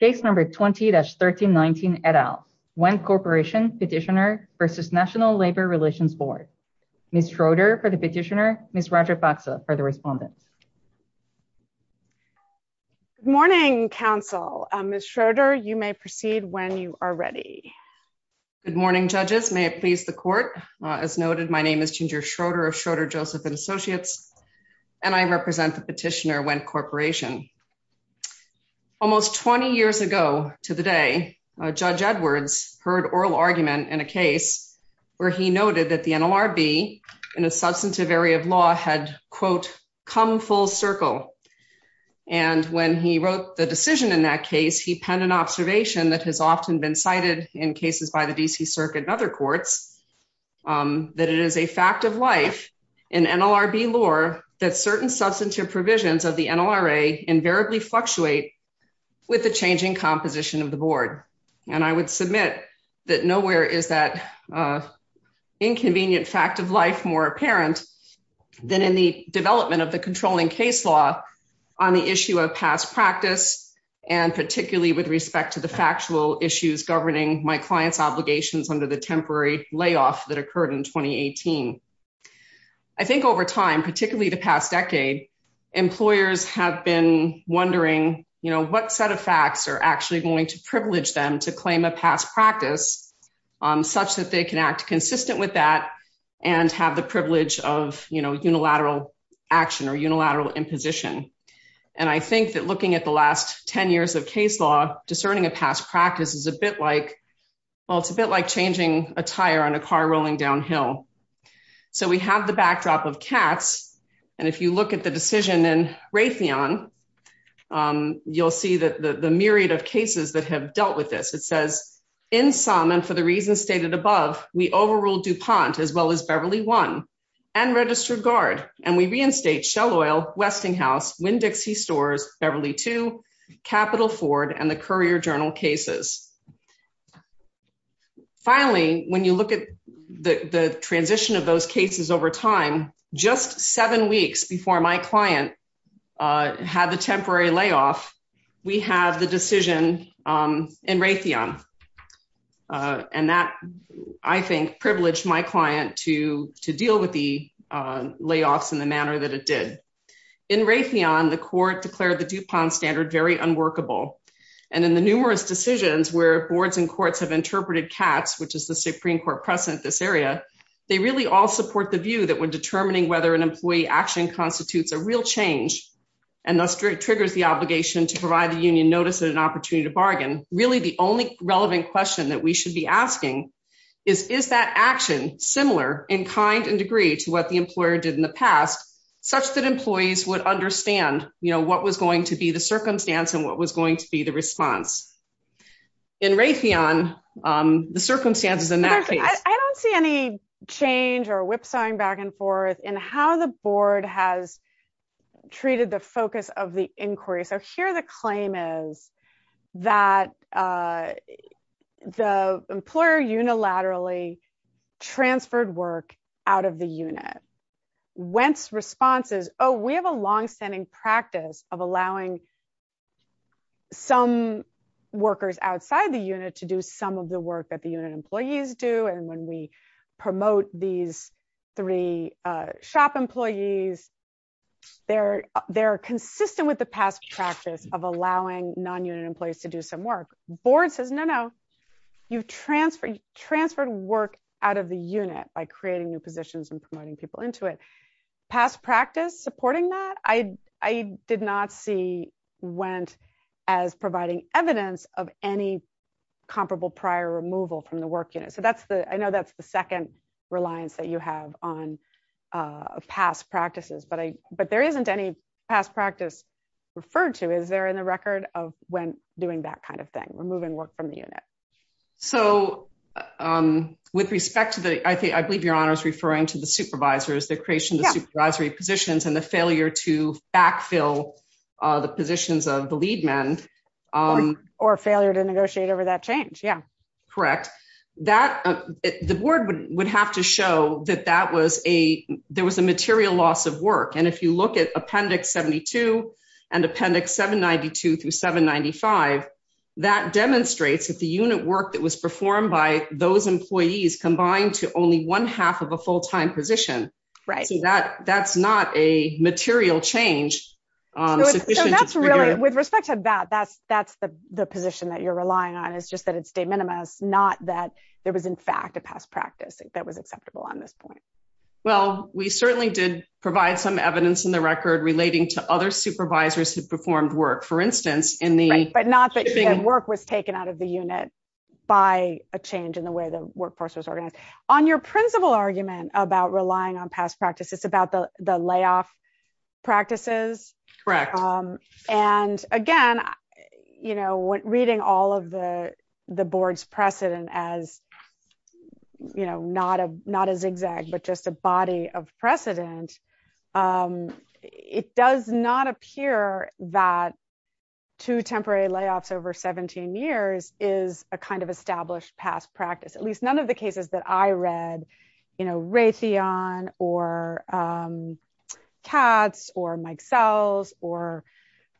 Case number 20-1319 et al. Wendt Corporation petitioner v. National Labor Relations Board. Ms. Schroeder for the petitioner, Ms. Roger Foxa for the respondent. Good morning, counsel. Ms. Schroeder, you may proceed when you are ready. Good morning, judges. May it please the court. As noted, my name is Ginger Schroeder of Schroeder, Joseph & Associates, and I represent the petitioner, Wendt Corporation. Almost 20 years ago to the day, Judge Edwards heard oral argument in a case where he noted that the NLRB in a substantive area of law had, quote, come full circle. And when he wrote the decision in that case, he penned an observation that has often been cited in cases by the D.C. Circuit and other courts, that it is a fact of life in NLRB lore that certain substantive provisions of the NLRA invariably fluctuate with the changing composition of the board. And I would submit that nowhere is that inconvenient fact of life more apparent than in the development of the controlling case law on the issue of past practice, and particularly with respect to the factual issues governing my client's obligations under the temporary layoff that occurred in 2018. I think over time, particularly the past decade, employers have been wondering what set of facts are actually going to privilege them to claim a past practice, such that they can act consistent with that and have the privilege of unilateral action or unilateral imposition. And I think that looking at the last 10 years of case law, discerning a past practice is a bit like, well, it's a bit like changing a tire on a car rolling downhill. So we have the backdrop of cats, and if you look at the decision in Raytheon, you'll see that the myriad of cases that have dealt with this. It says, in some, and for the reasons stated above, we overruled DuPont as well as Beverly One and registered guard, and we reinstate Shell Oil, Westinghouse, Winn-Dixie Stores, Beverly Two, Capital Ford, and the Courier Journal cases. Finally, when you look at the transition of those cases over time, just seven weeks before my client had the temporary layoff, we have the decision in Raytheon, and that, I think, privileged my client to deal with the layoffs in the manner that it did. In Raytheon, the court declared the DuPont standard very unworkable. And in the numerous decisions where boards and courts have interpreted cats, which is the Supreme Court precedent in this area, they really all support the view that when determining whether an employee action constitutes a real change, and thus triggers the obligation to provide the union notice and an opportunity to bargain, really the only relevant question that we should be asking is, is that action similar in kind and degree to what the employer did in the past, such that employees would understand what was going to be the circumstance and what was going to be the response? In Raytheon, the circumstances in that case- So we're going to go into our whipsawing back and forth in how the board has treated the focus of the inquiry. So here the claim is that the employer unilaterally transferred work out of the unit. Wendt's response is, oh, we have a longstanding practice of allowing some workers outside the unit to do some of the work that the unit employees do. And when we promote these three shop employees, they're consistent with the past practice of allowing non-unit employees to do some work. Board says, no, no, you've transferred work out of the unit by creating new positions and promoting people into it. Past practice supporting that, I did not see Wendt as providing evidence of any comparable prior removal from the work unit. I know that's the second reliance that you have on past practices, but there isn't any past practice referred to. Is there in the record of Wendt doing that kind of thing, removing work from the unit? So with respect to the, I believe your honor is referring to the supervisors, the creation of the supervisory positions and the failure to backfill the positions of the lead men. Or failure to negotiate over that change, yeah. Correct. That, the board would have to show that that was a, there was a material loss of work. And if you look at appendix 72 and appendix 792 through 795, that demonstrates that the unit work that was performed by those employees combined to only one half of a full-time position. Right. So that's not a material change. So that's really, with respect to that, that's the position that you're relying on is just that it's de minimis, not that there was in fact a past practice that was acceptable on this point. Well, we certainly did provide some evidence in the record relating to other supervisors who performed work. For instance, in the- Right, but not that work was taken out of the unit by a change in the way the workforce was organized. On your principal argument about relying on past practice, it's about the layoff practices. Correct. And again, reading all of the board's precedent as not a zigzag, but just a body of precedent, it does not appear that two temporary layoffs over 17 years is a kind of established past practice. At least none of the cases that I read, Raytheon or Katz or Mike Sells or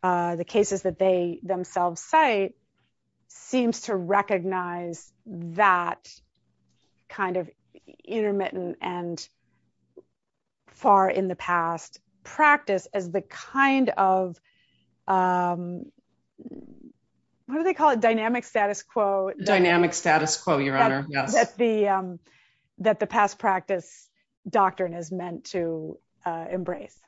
the cases that they themselves cite seems to recognize that kind of intermittent and far in the past practice as the kind of, what do they call it? Dynamic status quo. Dynamic status quo, Your Honor, yes. That the past practice doctrine is meant to embrace.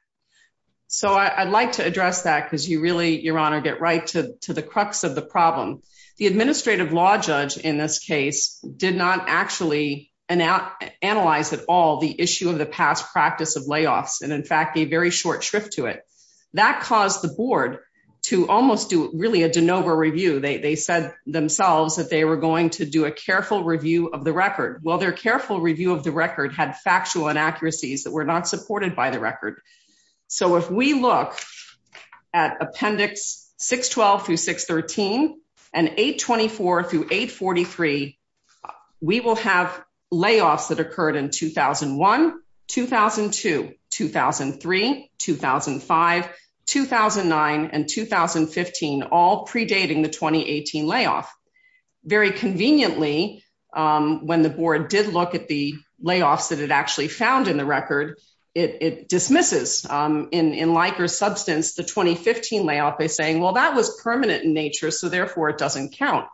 So I'd like to address that because you really, Your Honor, get right to the crux of the problem. The administrative law judge in this case did not actually analyze at all the issue of the past practice of layoffs. And in fact, gave very short shrift to it. That caused the board to almost do really a de novo review. They said themselves that they were going to do a careful review of the record. Well, their careful review of the record had factual inaccuracies that were not supported by the record. So if we look at appendix 612 through 613 and 824 through 843, we will have layoffs that occurred in 2001, 2002, 2003, 2005, 2009 and 2015, all predating the 2018 layoff. Very conveniently, when the board did look at the layoffs that it actually found in the record, it dismisses in Likert substance, the 2015 layoff by saying, well, that was permanent in nature, so therefore it doesn't count.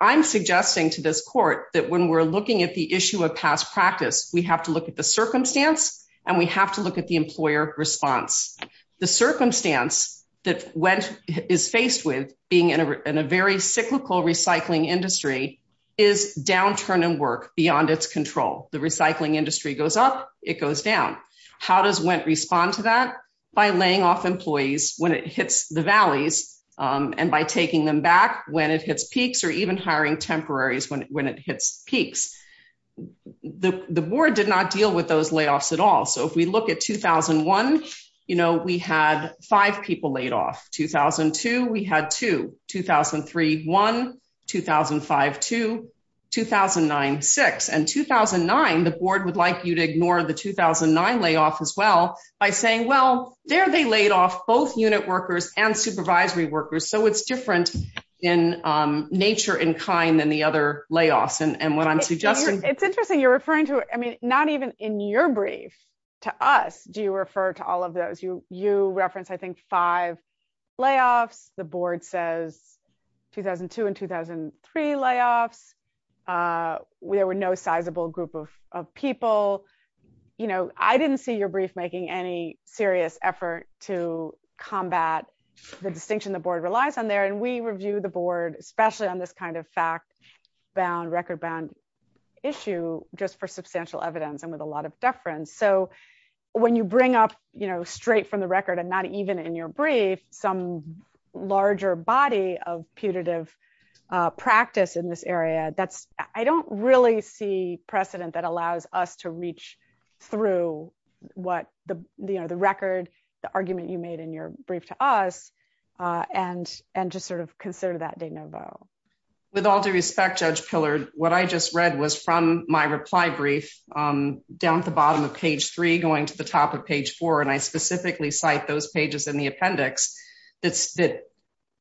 I'm suggesting to this court that when we're looking at the issue of past practice, we have to look at the circumstance and we have to look at the employer response. The circumstance that Wendt is faced with being in a very cyclical recycling industry is downturn in work beyond its control. The recycling industry goes up, it goes down. How does Wendt respond to that? By laying off employees when it hits the valleys and by taking them back when it hits peaks or even hiring temporaries when it hits peaks. The board did not deal with those layoffs at all. So if we look at 2001, we had five people laid off. 2002, we had two. 2003, one. 2005, two. 2009, six. And 2009, the board would like you to ignore the 2009 layoff as well by saying, well, there they laid off both unit workers and supervisory workers. So it's different in nature and kind than the other layoffs. And what I'm suggesting- It's interesting, you're referring to, I mean, not even in your brief to us, do you refer to all of those. You referenced, I think, five layoffs. The board says 2002 and 2003 layoffs. There were no sizable group of people. I didn't see your brief making any serious effort to combat the distinction the board relies on there. And we review the board, especially on this kind of fact-bound, record-bound issue just for substantial evidence and with a lot of deference. So when you bring up straight from the record and not even in your brief, some larger body of putative practice in this area, I don't really see precedent that allows us to reach through the record, the argument you made in your brief to us, and just sort of consider that de novo. With all due respect, Judge Pillard, what I just read was from my reply brief down at the bottom of page three, going to the top of page four, and I specifically cite those pages in the appendix that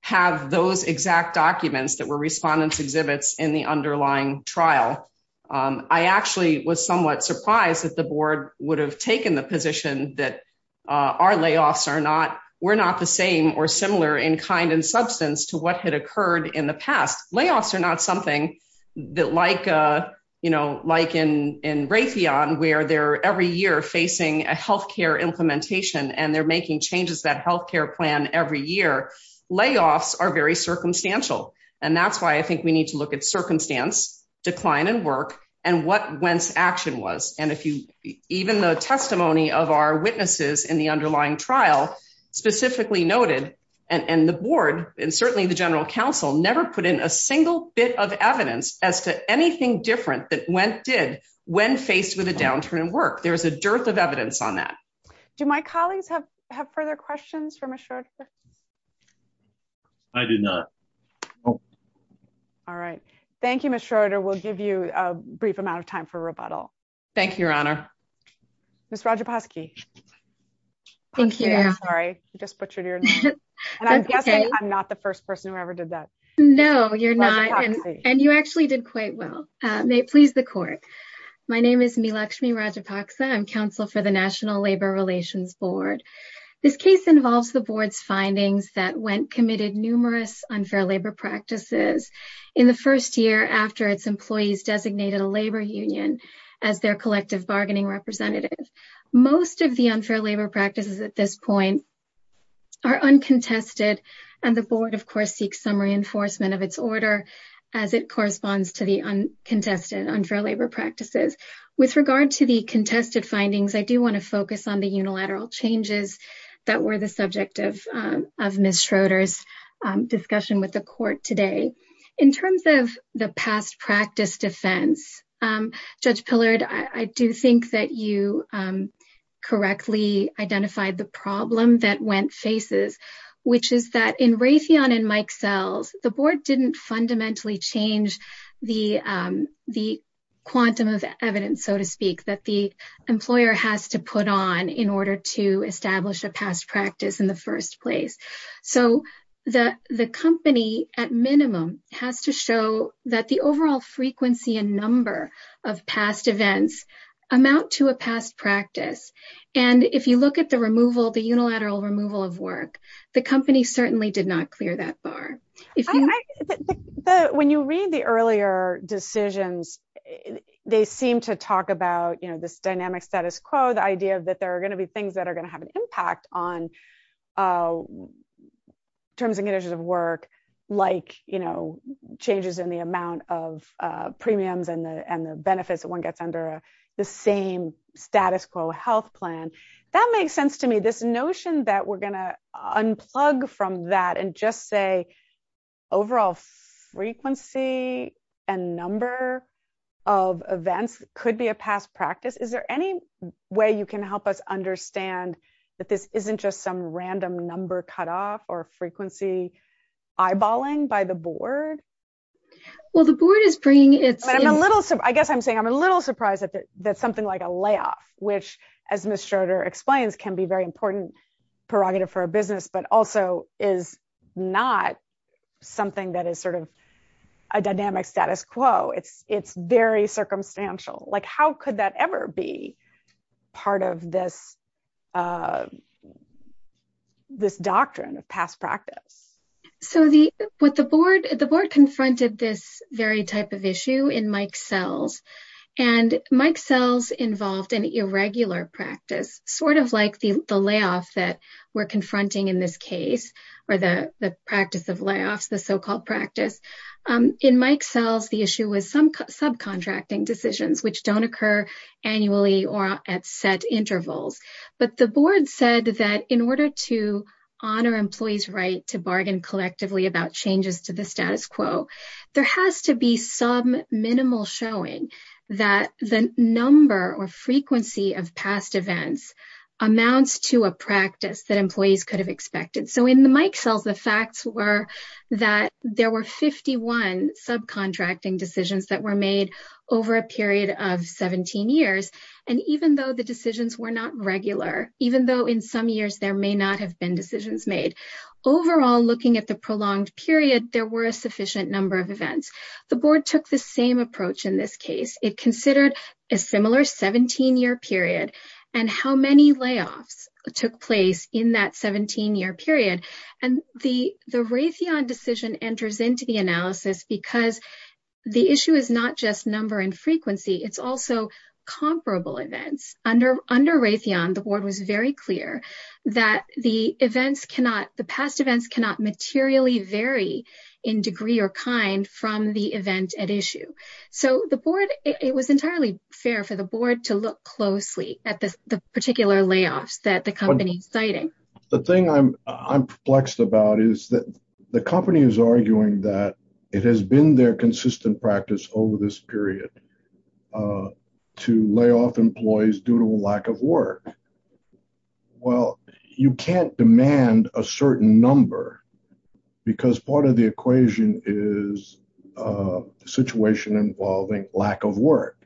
have those exact documents that were respondents' exhibits in the underlying trial. I actually was somewhat surprised that the board would have taken the position that our layoffs were not the same or similar in kind and substance to what had occurred in the past. Layoffs are not something that, like in Raytheon, where they're every year facing a healthcare implementation and they're making changes to that healthcare plan every year, layoffs are very circumstantial. And that's why I think we need to look at circumstance, decline in work, and what whence action was. And even the testimony of our witnesses in the underlying trial specifically noted, and the board and certainly the general counsel never put in a single bit of evidence as to anything different that went did when faced with a downturn in work. There's a dearth of evidence on that. Do my colleagues have further questions for Ms. Schroeder? I do not. All right. Thank you, Ms. Schroeder. We'll give you a brief amount of time for rebuttal. Thank you, Your Honor. Ms. Radjaposki. Thank you. I'm sorry, I just butchered your name. And I'm guessing I'm not the first person who ever did that. No, you're not. And you actually did quite well. May it please the court. My name is Meelakshmi Radjapaksa. I'm counsel for the National Labor Relations Board. This case involves the board's findings that went committed numerous unfair labor practices in the first year after its employees designated a labor union as their collective bargaining representative. Most of the unfair labor practices at this point are uncontested. And the board, of course, seeks some reinforcement of its order as it corresponds to the uncontested unfair labor practices. With regard to the contested findings, I do wanna focus on the unilateral changes that were the subject of Ms. Schroeder's discussion with the court today. In terms of the past practice defense, Judge Pillard, I do think that you correctly identified the problem that Wendt faces, which is that in Raytheon and Mike Sells, the board didn't fundamentally change the quantum of evidence, so to speak, that the employer has to put on in order to establish a past practice in the first place. So the company at minimum has to show that the overall frequency and number of past events amount to a past practice. And if you look at the removal, the unilateral removal of work, the company certainly did not clear that bar. When you read the earlier decisions, they seem to talk about this dynamic status quo, the idea that there are gonna be things that are gonna have an impact on terms and conditions of work like changes in the amount of premiums and the benefits that one gets under the same status quo health plan. That makes sense to me. This notion that we're gonna unplug from that and just say overall frequency and number of events could be a past practice. Is there any way you can help us understand that this isn't just some random number cutoff or frequency eyeballing by the board? Well, the board is bringing its- I guess I'm saying I'm a little surprised that something like a layoff, which as Ms. Schroeder explains can be very important prerogative for a business, but also is not something that is sort of a dynamic status quo. It's very circumstantial. Like how could that ever be part of this, this doctrine of past practice? So with the board, the board confronted this very type of issue in Mike Sells. And Mike Sells involved an irregular practice, sort of like the layoff that we're confronting in this case or the practice of layoffs, the so-called practice. In Mike Sells, the issue was some subcontracting decisions which don't occur annually or at set intervals. But the board said that in order to honor employees' right to bargain collectively about changes to the status quo, there has to be some minimal showing that the number or frequency of past events amounts to a practice that employees could have expected. So in the Mike Sells, the facts were that there were 51 subcontracting decisions that were made over a period of 17 years. And even though the decisions were not regular, even though in some years there may not have been decisions made, overall looking at the prolonged period, there were a sufficient number of events. The board took the same approach in this case. It considered a similar 17-year period and how many layoffs took place in that 17-year period. And the Raytheon decision enters into the analysis because the issue is not just number and frequency, it's also comparable events. Under Raytheon, the board was very clear that the past events cannot materially vary in degree or kind from the event at issue. So the board, it was entirely fair for the board to look closely at the particular layoffs that the company is citing. The thing I'm perplexed about is that the company is arguing that it has been their consistent practice over this period to lay off employees due to a lack of work. Well, you can't demand a certain number because part of the equation is a situation involving lack of work.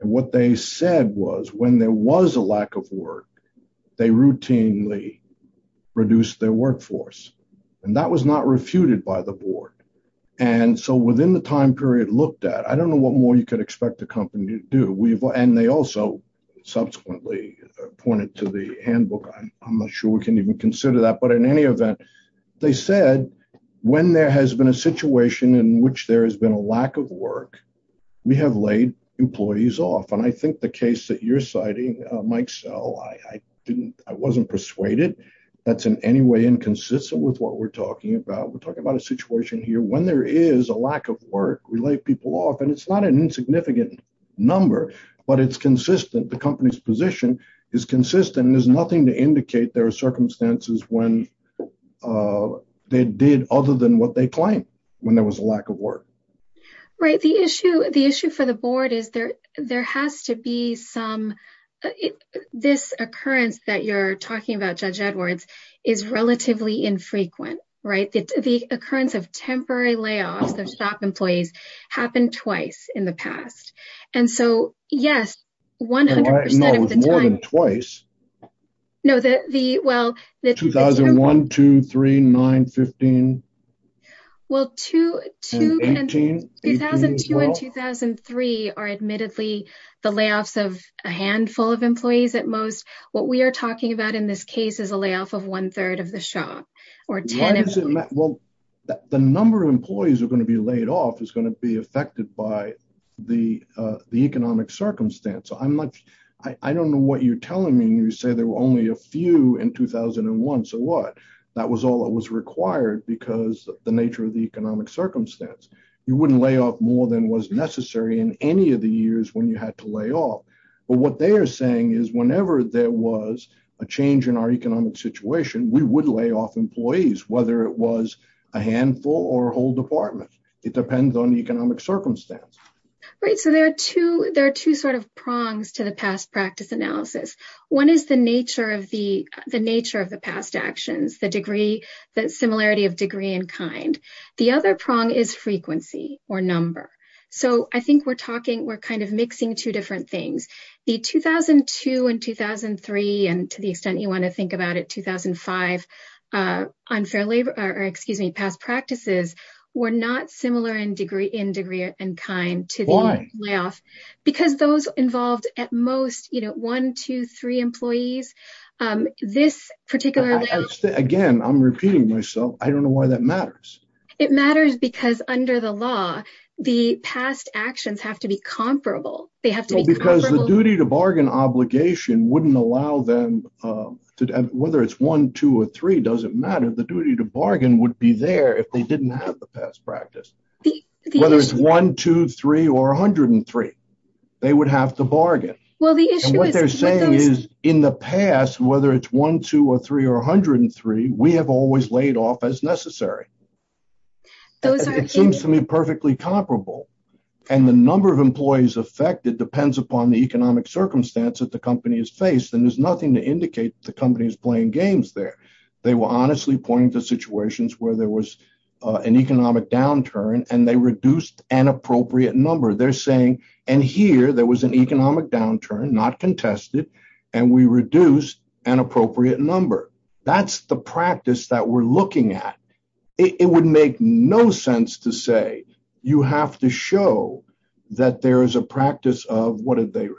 And what they said was when there was a lack of work, they routinely reduced their workforce. And that was not refuted by the board. And so within the time period looked at, I don't know what more you could expect the company to do. And they also subsequently pointed to the handbook. I'm not sure we can even consider that, but in any event, they said, when there has been a situation in which there has been a lack of work, we have laid employees off. And I think the case that you're citing, Mike Sell, I wasn't persuaded that's in any way inconsistent with what we're talking about. We're talking about a situation here when there is a lack of work, we lay people off and it's not an insignificant number, but it's consistent. The company's position is consistent. There's nothing to indicate there are circumstances when they did other than what they claimed when there was a lack of work. Right, the issue for the board is there has to be some, this occurrence that you're talking about, Judge Edwards, is relatively infrequent, right? The occurrence of temporary layoffs of shop employees happened twice in the past. And so, yes, 100% of the time- No, it was more than twice. No, the, well, the- 2001, two, three, nine, 15. Well, two- And 18, 18 as well. 2002 and 2003 are admittedly the layoffs of a handful of employees at most. What we are talking about in this case is a layoff of one third of the shop, or 10 if we- Well, the number of employees who are gonna be laid off is gonna be affected by the economic circumstance. I'm not, I don't know what you're telling me when you say there were only a few in 2001. So what? That was all that was required because of the nature of the economic circumstance. You wouldn't lay off more than was necessary in any of the years when you had to lay off. But what they are saying is whenever there was a change in our economic situation, we would lay off employees, whether it was a handful or a whole department. It depends on the economic circumstance. Right, so there are two sort of prongs to the past practice analysis. One is the nature of the past actions, the degree, the similarity of degree and kind. The other prong is frequency or number. So I think we're talking, we're kind of mixing two different things. The 2002 and 2003, and to the extent you wanna think about it, 2005 unfair labor, or excuse me, past practices were not similar in degree and kind to the layoff. Because those involved at most, one, two, three employees, this particular- Again, I'm repeating myself. I don't know why that matters. It matters because under the law, the past actions have to be comparable. They have to be comparable- Because the duty to bargain obligation wouldn't allow them to, whether it's one, two, or three, doesn't matter. The duty to bargain would be there if they didn't have the past practice. Whether it's one, two, three, or 103, they would have to bargain. Well, the issue is- And what they're saying is in the past, whether it's one, two, or three, or 103, we have always laid off as necessary. Those are- It seems to me perfectly comparable. And the number of employees affected depends upon the economic circumstance that the company is faced. And there's nothing to indicate the company is playing games there. They were honestly pointing to situations where there was an economic downturn and they reduced an appropriate number. They're saying, and here there was an economic downturn, not contested, and we reduced an appropriate number. That's the practice that we're looking at. It would make no sense to say you have to show that there is a practice of,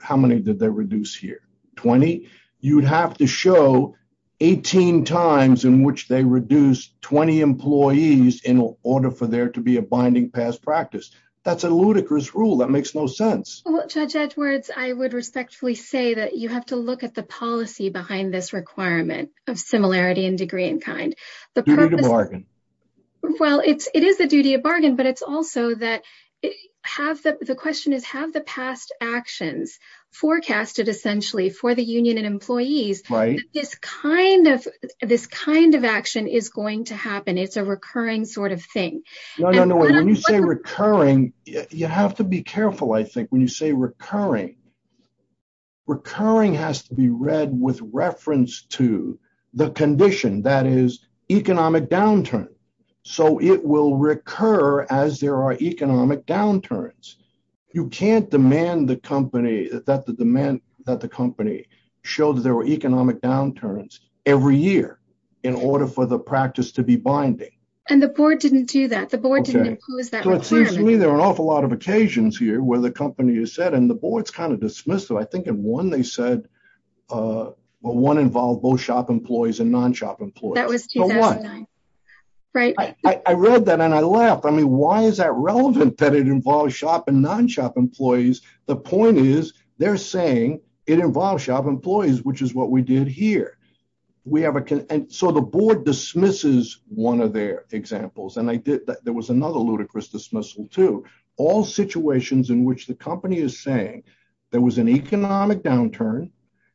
how many did they reduce here? 20? You'd have to show 18 times in which they reduced 20 employees in order for there to be a binding past practice. That's a ludicrous rule. That makes no sense. Judge Edwards, I would respectfully say that you have to look at the policy behind this requirement of similarity and degree in kind. The purpose- Duty to bargain. Well, it is the duty of bargain, but it's also that the question is if you have the past actions forecasted essentially for the union and employees, this kind of action is going to happen. It's a recurring sort of thing. No, no, no. When you say recurring, you have to be careful, I think, when you say recurring. Recurring has to be read with reference to the condition that is economic downturn. So it will recur as there are economic downturns. You can't demand that the company show that there were economic downturns every year in order for the practice to be binding. And the board didn't do that. The board didn't impose that requirement. Okay, so it seems to me there are an awful lot of occasions here where the company has said, and the board's kind of dismissed it. I think in one they said, well, one involved both shop employees and non-shop employees. That was 2009, right? I read that and I laughed. I mean, why is that relevant that it involves shop and non-shop employees? The point is they're saying it involves shop employees, which is what we did here. We have a... And so the board dismisses one of their examples. And there was another ludicrous dismissal too. All situations in which the company is saying there was an economic downturn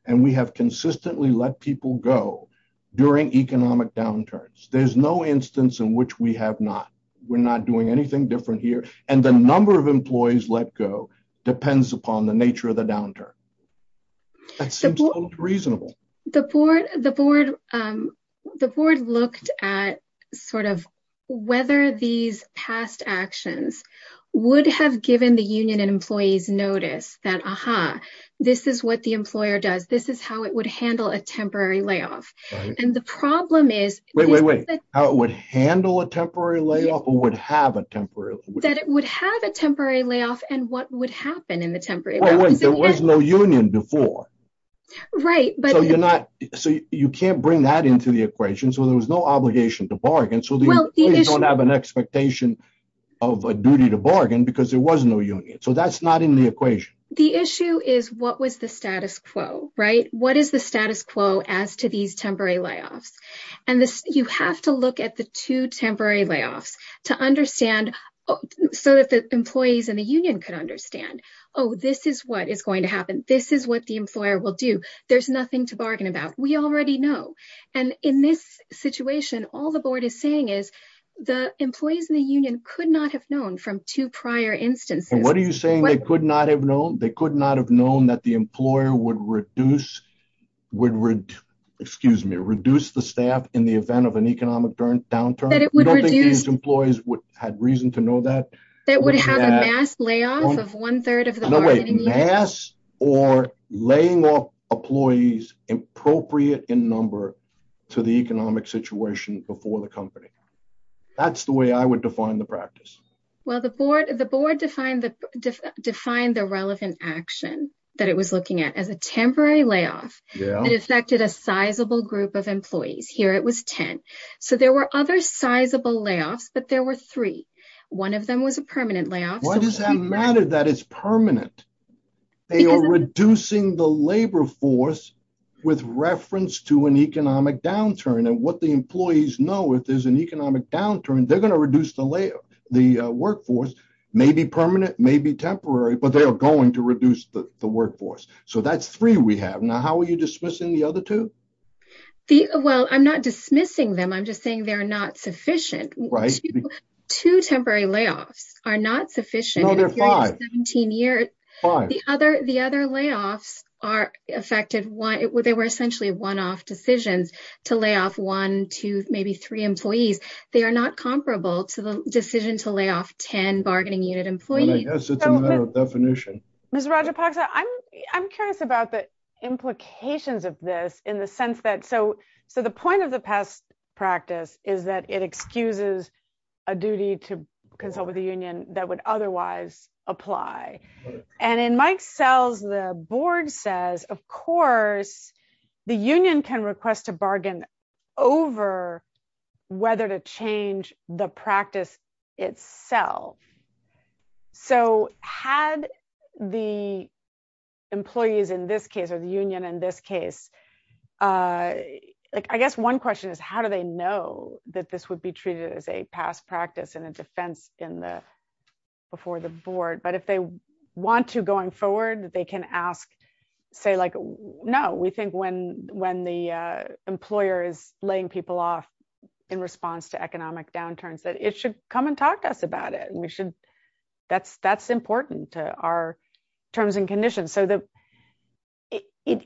and we have consistently let people go during economic downturns. There's no instance in which we have not. We're not doing anything different here. And the number of employees let go depends upon the nature of the downturn. That seems reasonable. The board looked at sort of whether these past actions would have given the union and employees notice that, aha, this is what the employer does. This is how it would handle a temporary layoff. And the problem is- Wait, wait, wait. How it would handle a temporary layoff or would have a temporary layoff? That it would have a temporary layoff and what would happen in the temporary layoff. There was no union before. Right, but- So you're not... So you can't bring that into the equation. So there was no obligation to bargain. So the employees don't have an expectation of a duty to bargain because there was no union. So that's not in the equation. The issue is what was the status quo, right? What is the status quo as to these temporary layoffs? And you have to look at the two temporary layoffs to understand so that the employees and the union could understand, oh, this is what is going to happen. This is what the employer will do. There's nothing to bargain about. We already know. And in this situation, all the board is saying is the employees and the union could not have known from two prior instances- What are you saying they could not have known? They could not have known that the employer would reduce, would, excuse me, reduce the staff in the event of an economic downturn. That it would reduce- I don't think these employees had reason to know that. That would have a mass layoff of one third of the bargaining union. No wait, mass or laying off employees appropriate in number to the economic situation before the company. That's the way I would define the practice. Well, the board defined the relevant action that it was looking at as a temporary layoff that affected a sizable group of employees. Here it was 10. So there were other sizable layoffs, but there were three. One of them was a permanent layoff. Why does that matter that it's permanent? They are reducing the labor force with reference to an economic downturn. And what the employees know, if there's an economic downturn, they're going to reduce the workforce. Maybe permanent, maybe temporary, but they are going to reduce the workforce. So that's three we have. Now, how are you dismissing the other two? Well, I'm not dismissing them. I'm just saying they're not sufficient. Two temporary layoffs are not sufficient. No, they're five. 17 years. The other layoffs are affected. They were essentially one-off decisions to lay off one, two, maybe three employees. They are not comparable to the decision to lay off 10 bargaining unit employees. And I guess it's a matter of definition. Ms. Rajapaksa, I'm curious about the implications of this in the sense that, so the point of the past practice is that it excuses a duty to consult with the union that would otherwise apply. And in Mike Sells, the board says, of course the union can request a bargain over whether to change the practice itself. So had the employees in this case, or the union in this case, like I guess one question is how do they know that this would be treated as a past practice and a defense before the board? But if they want to going forward, they can ask, say like, no, we think when the employer is laying people off in response to economic downturns, that it should come and talk to us about it. That's important to our terms and conditions. So it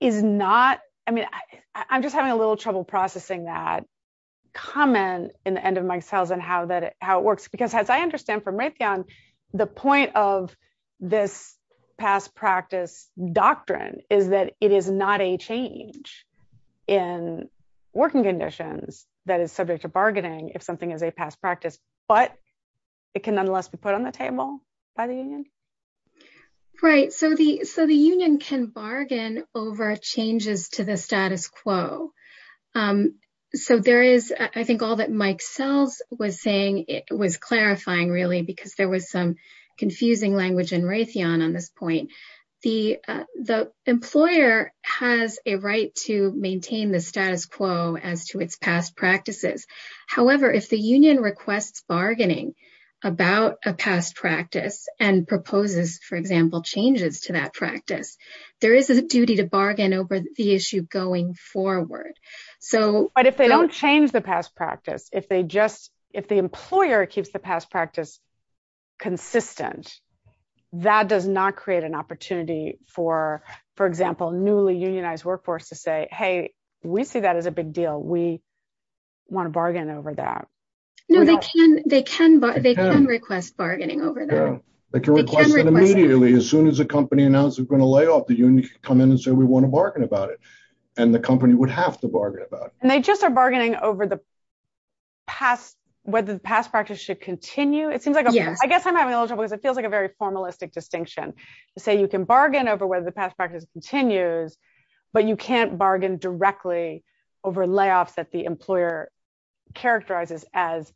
is not, I mean, I'm just having a little trouble processing that comment in the end of Mike Sells and how it works, because as I understand from Raytheon, the point of this past practice doctrine is that it is not a change in working conditions that is subject to bargaining if something is a past practice, but it can nonetheless be put on the table by the union. Right, so the union can bargain over changes to the status quo. So there is, I think all that Mike Sells was saying, it was clarifying really, because there was some confusing language in Raytheon on this point. The employer has a right to maintain the status quo as to its past practices. However, if the union requests bargaining about a past practice and proposes, for example, changes to that practice, there is a duty to bargain over the issue going forward. So- But if they don't change the past practice, if they just, if the employer keeps the past practice consistent, that does not create an opportunity for, for example, newly unionized workforce to say, hey, we see that as a big deal. We want to bargain over that. No, they can request bargaining over that. They can request it immediately. As soon as a company announced it was going to lay off, the union can come in and say, we want to bargain about it. And the company would have to bargain about it. And they just are bargaining over the past, whether the past practice should continue. It seems like, I guess I'm having a little trouble because it feels like a very formalistic distinction to say you can bargain over whether the past practice continues, but you can't bargain directly over layoffs that the employer characterizes as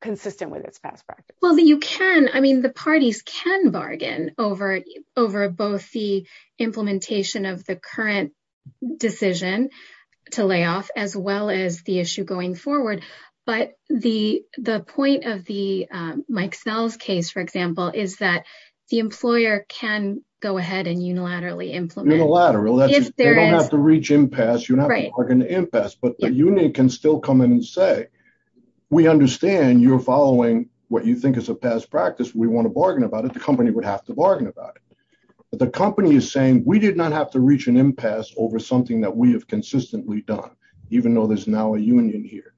consistent with its past practice. Well, you can, I mean, the parties can bargain over both the implementation of the current decision to lay off as well as the issue going forward. But the point of the Mike Sells case, for example, is that the employer can go ahead and unilaterally implement. Unilaterally, they don't have to reach impasse. You don't have to bargain impasse, but the union can still come in and say, we understand you're following what you think is a past practice. We want to bargain about it. The company would have to bargain about it. But the company is saying, we did not have to reach an impasse over something that we have consistently done, even though there's now a union here.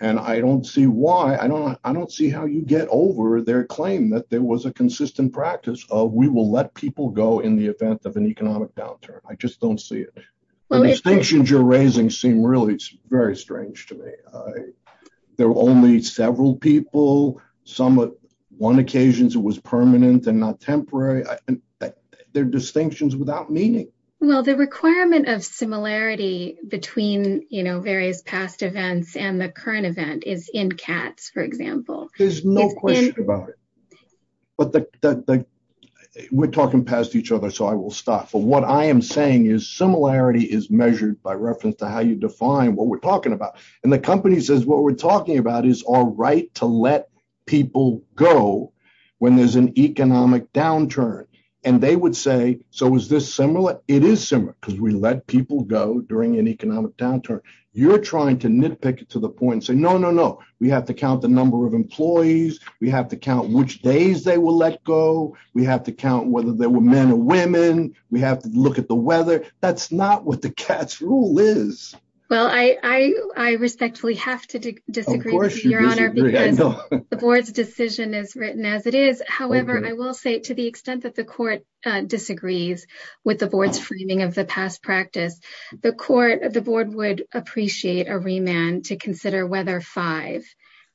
And I don't see why, I don't see how you get over their claim that there was a consistent practice of we will let people go in the event of an economic downturn. I just don't see it. The distinctions you're raising seem really very strange to me. There were only several people, some at one occasions it was permanent and not temporary. They're distinctions without meaning. Well, the requirement of similarity between various past events and the current event is in Katz, for example. There's no question about it. But we're talking past each other, so I will stop. But what I am saying is similarity is measured by reference to how you define what we're talking about. And the company says, what we're talking about is our right to let people go when there's an economic downturn. And they would say, so is this similar? It is similar, because we let people go during an economic downturn. You're trying to nitpick it to the point and say, no, no, no, we have to count the number of employees. We have to count which days they will let go. We have to count whether they were men or women. We have to look at the weather. That's not what the Katz rule is. Well, I respectfully have to disagree, Your Honor, because the board's decision is written as it is. However, I will say to the extent that the court disagrees with the board's framing of the past practice, the board would appreciate a remand to consider whether five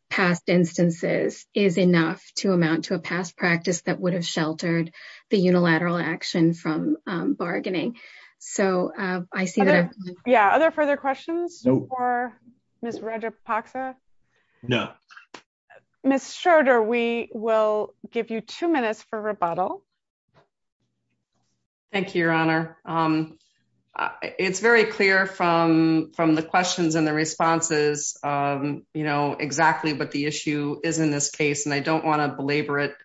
past instances is enough to amount to a past practice that would have sheltered the unilateral action from bargaining. So I see that- Yeah, other further questions for Ms. Roger-Poxa? No. Ms. Schroeder, we will give you two minutes for rebuttal. Thank you, Your Honor. It's very clear from the questions and the responses exactly what the issue is in this case, and I don't wanna belabor it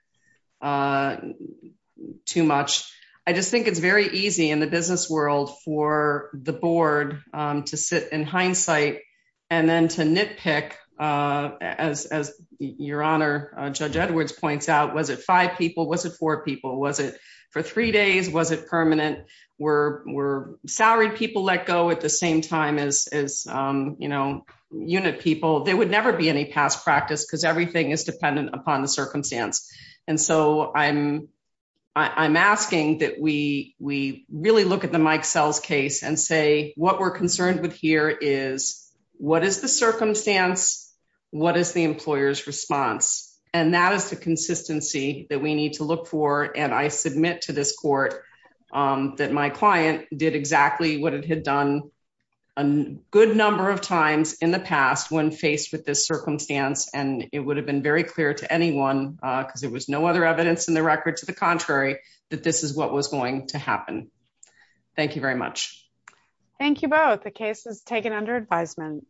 too much. I just think it's very easy in the business world for the board to sit in hindsight and then to nitpick as Your Honor, Judge Edwards points out, was it five people? Was it four people? Was it for three days? Was it permanent? Were salary people let go at the same time as unit people? There would never be any past practice because everything is dependent upon the circumstance. And so I'm asking that we really look at the Mike Sells case and say, what we're concerned with here is, what is the circumstance? What is the employer's response? And that is the consistency that we need to look for. And I submit to this court that my client did exactly what it had done a good number of times in the past when faced with this circumstance, and it would have been very clear to anyone because there was no other evidence in the record to the contrary, that this is what was going to happen. Thank you very much. Thank you both. The case is taken under advisement.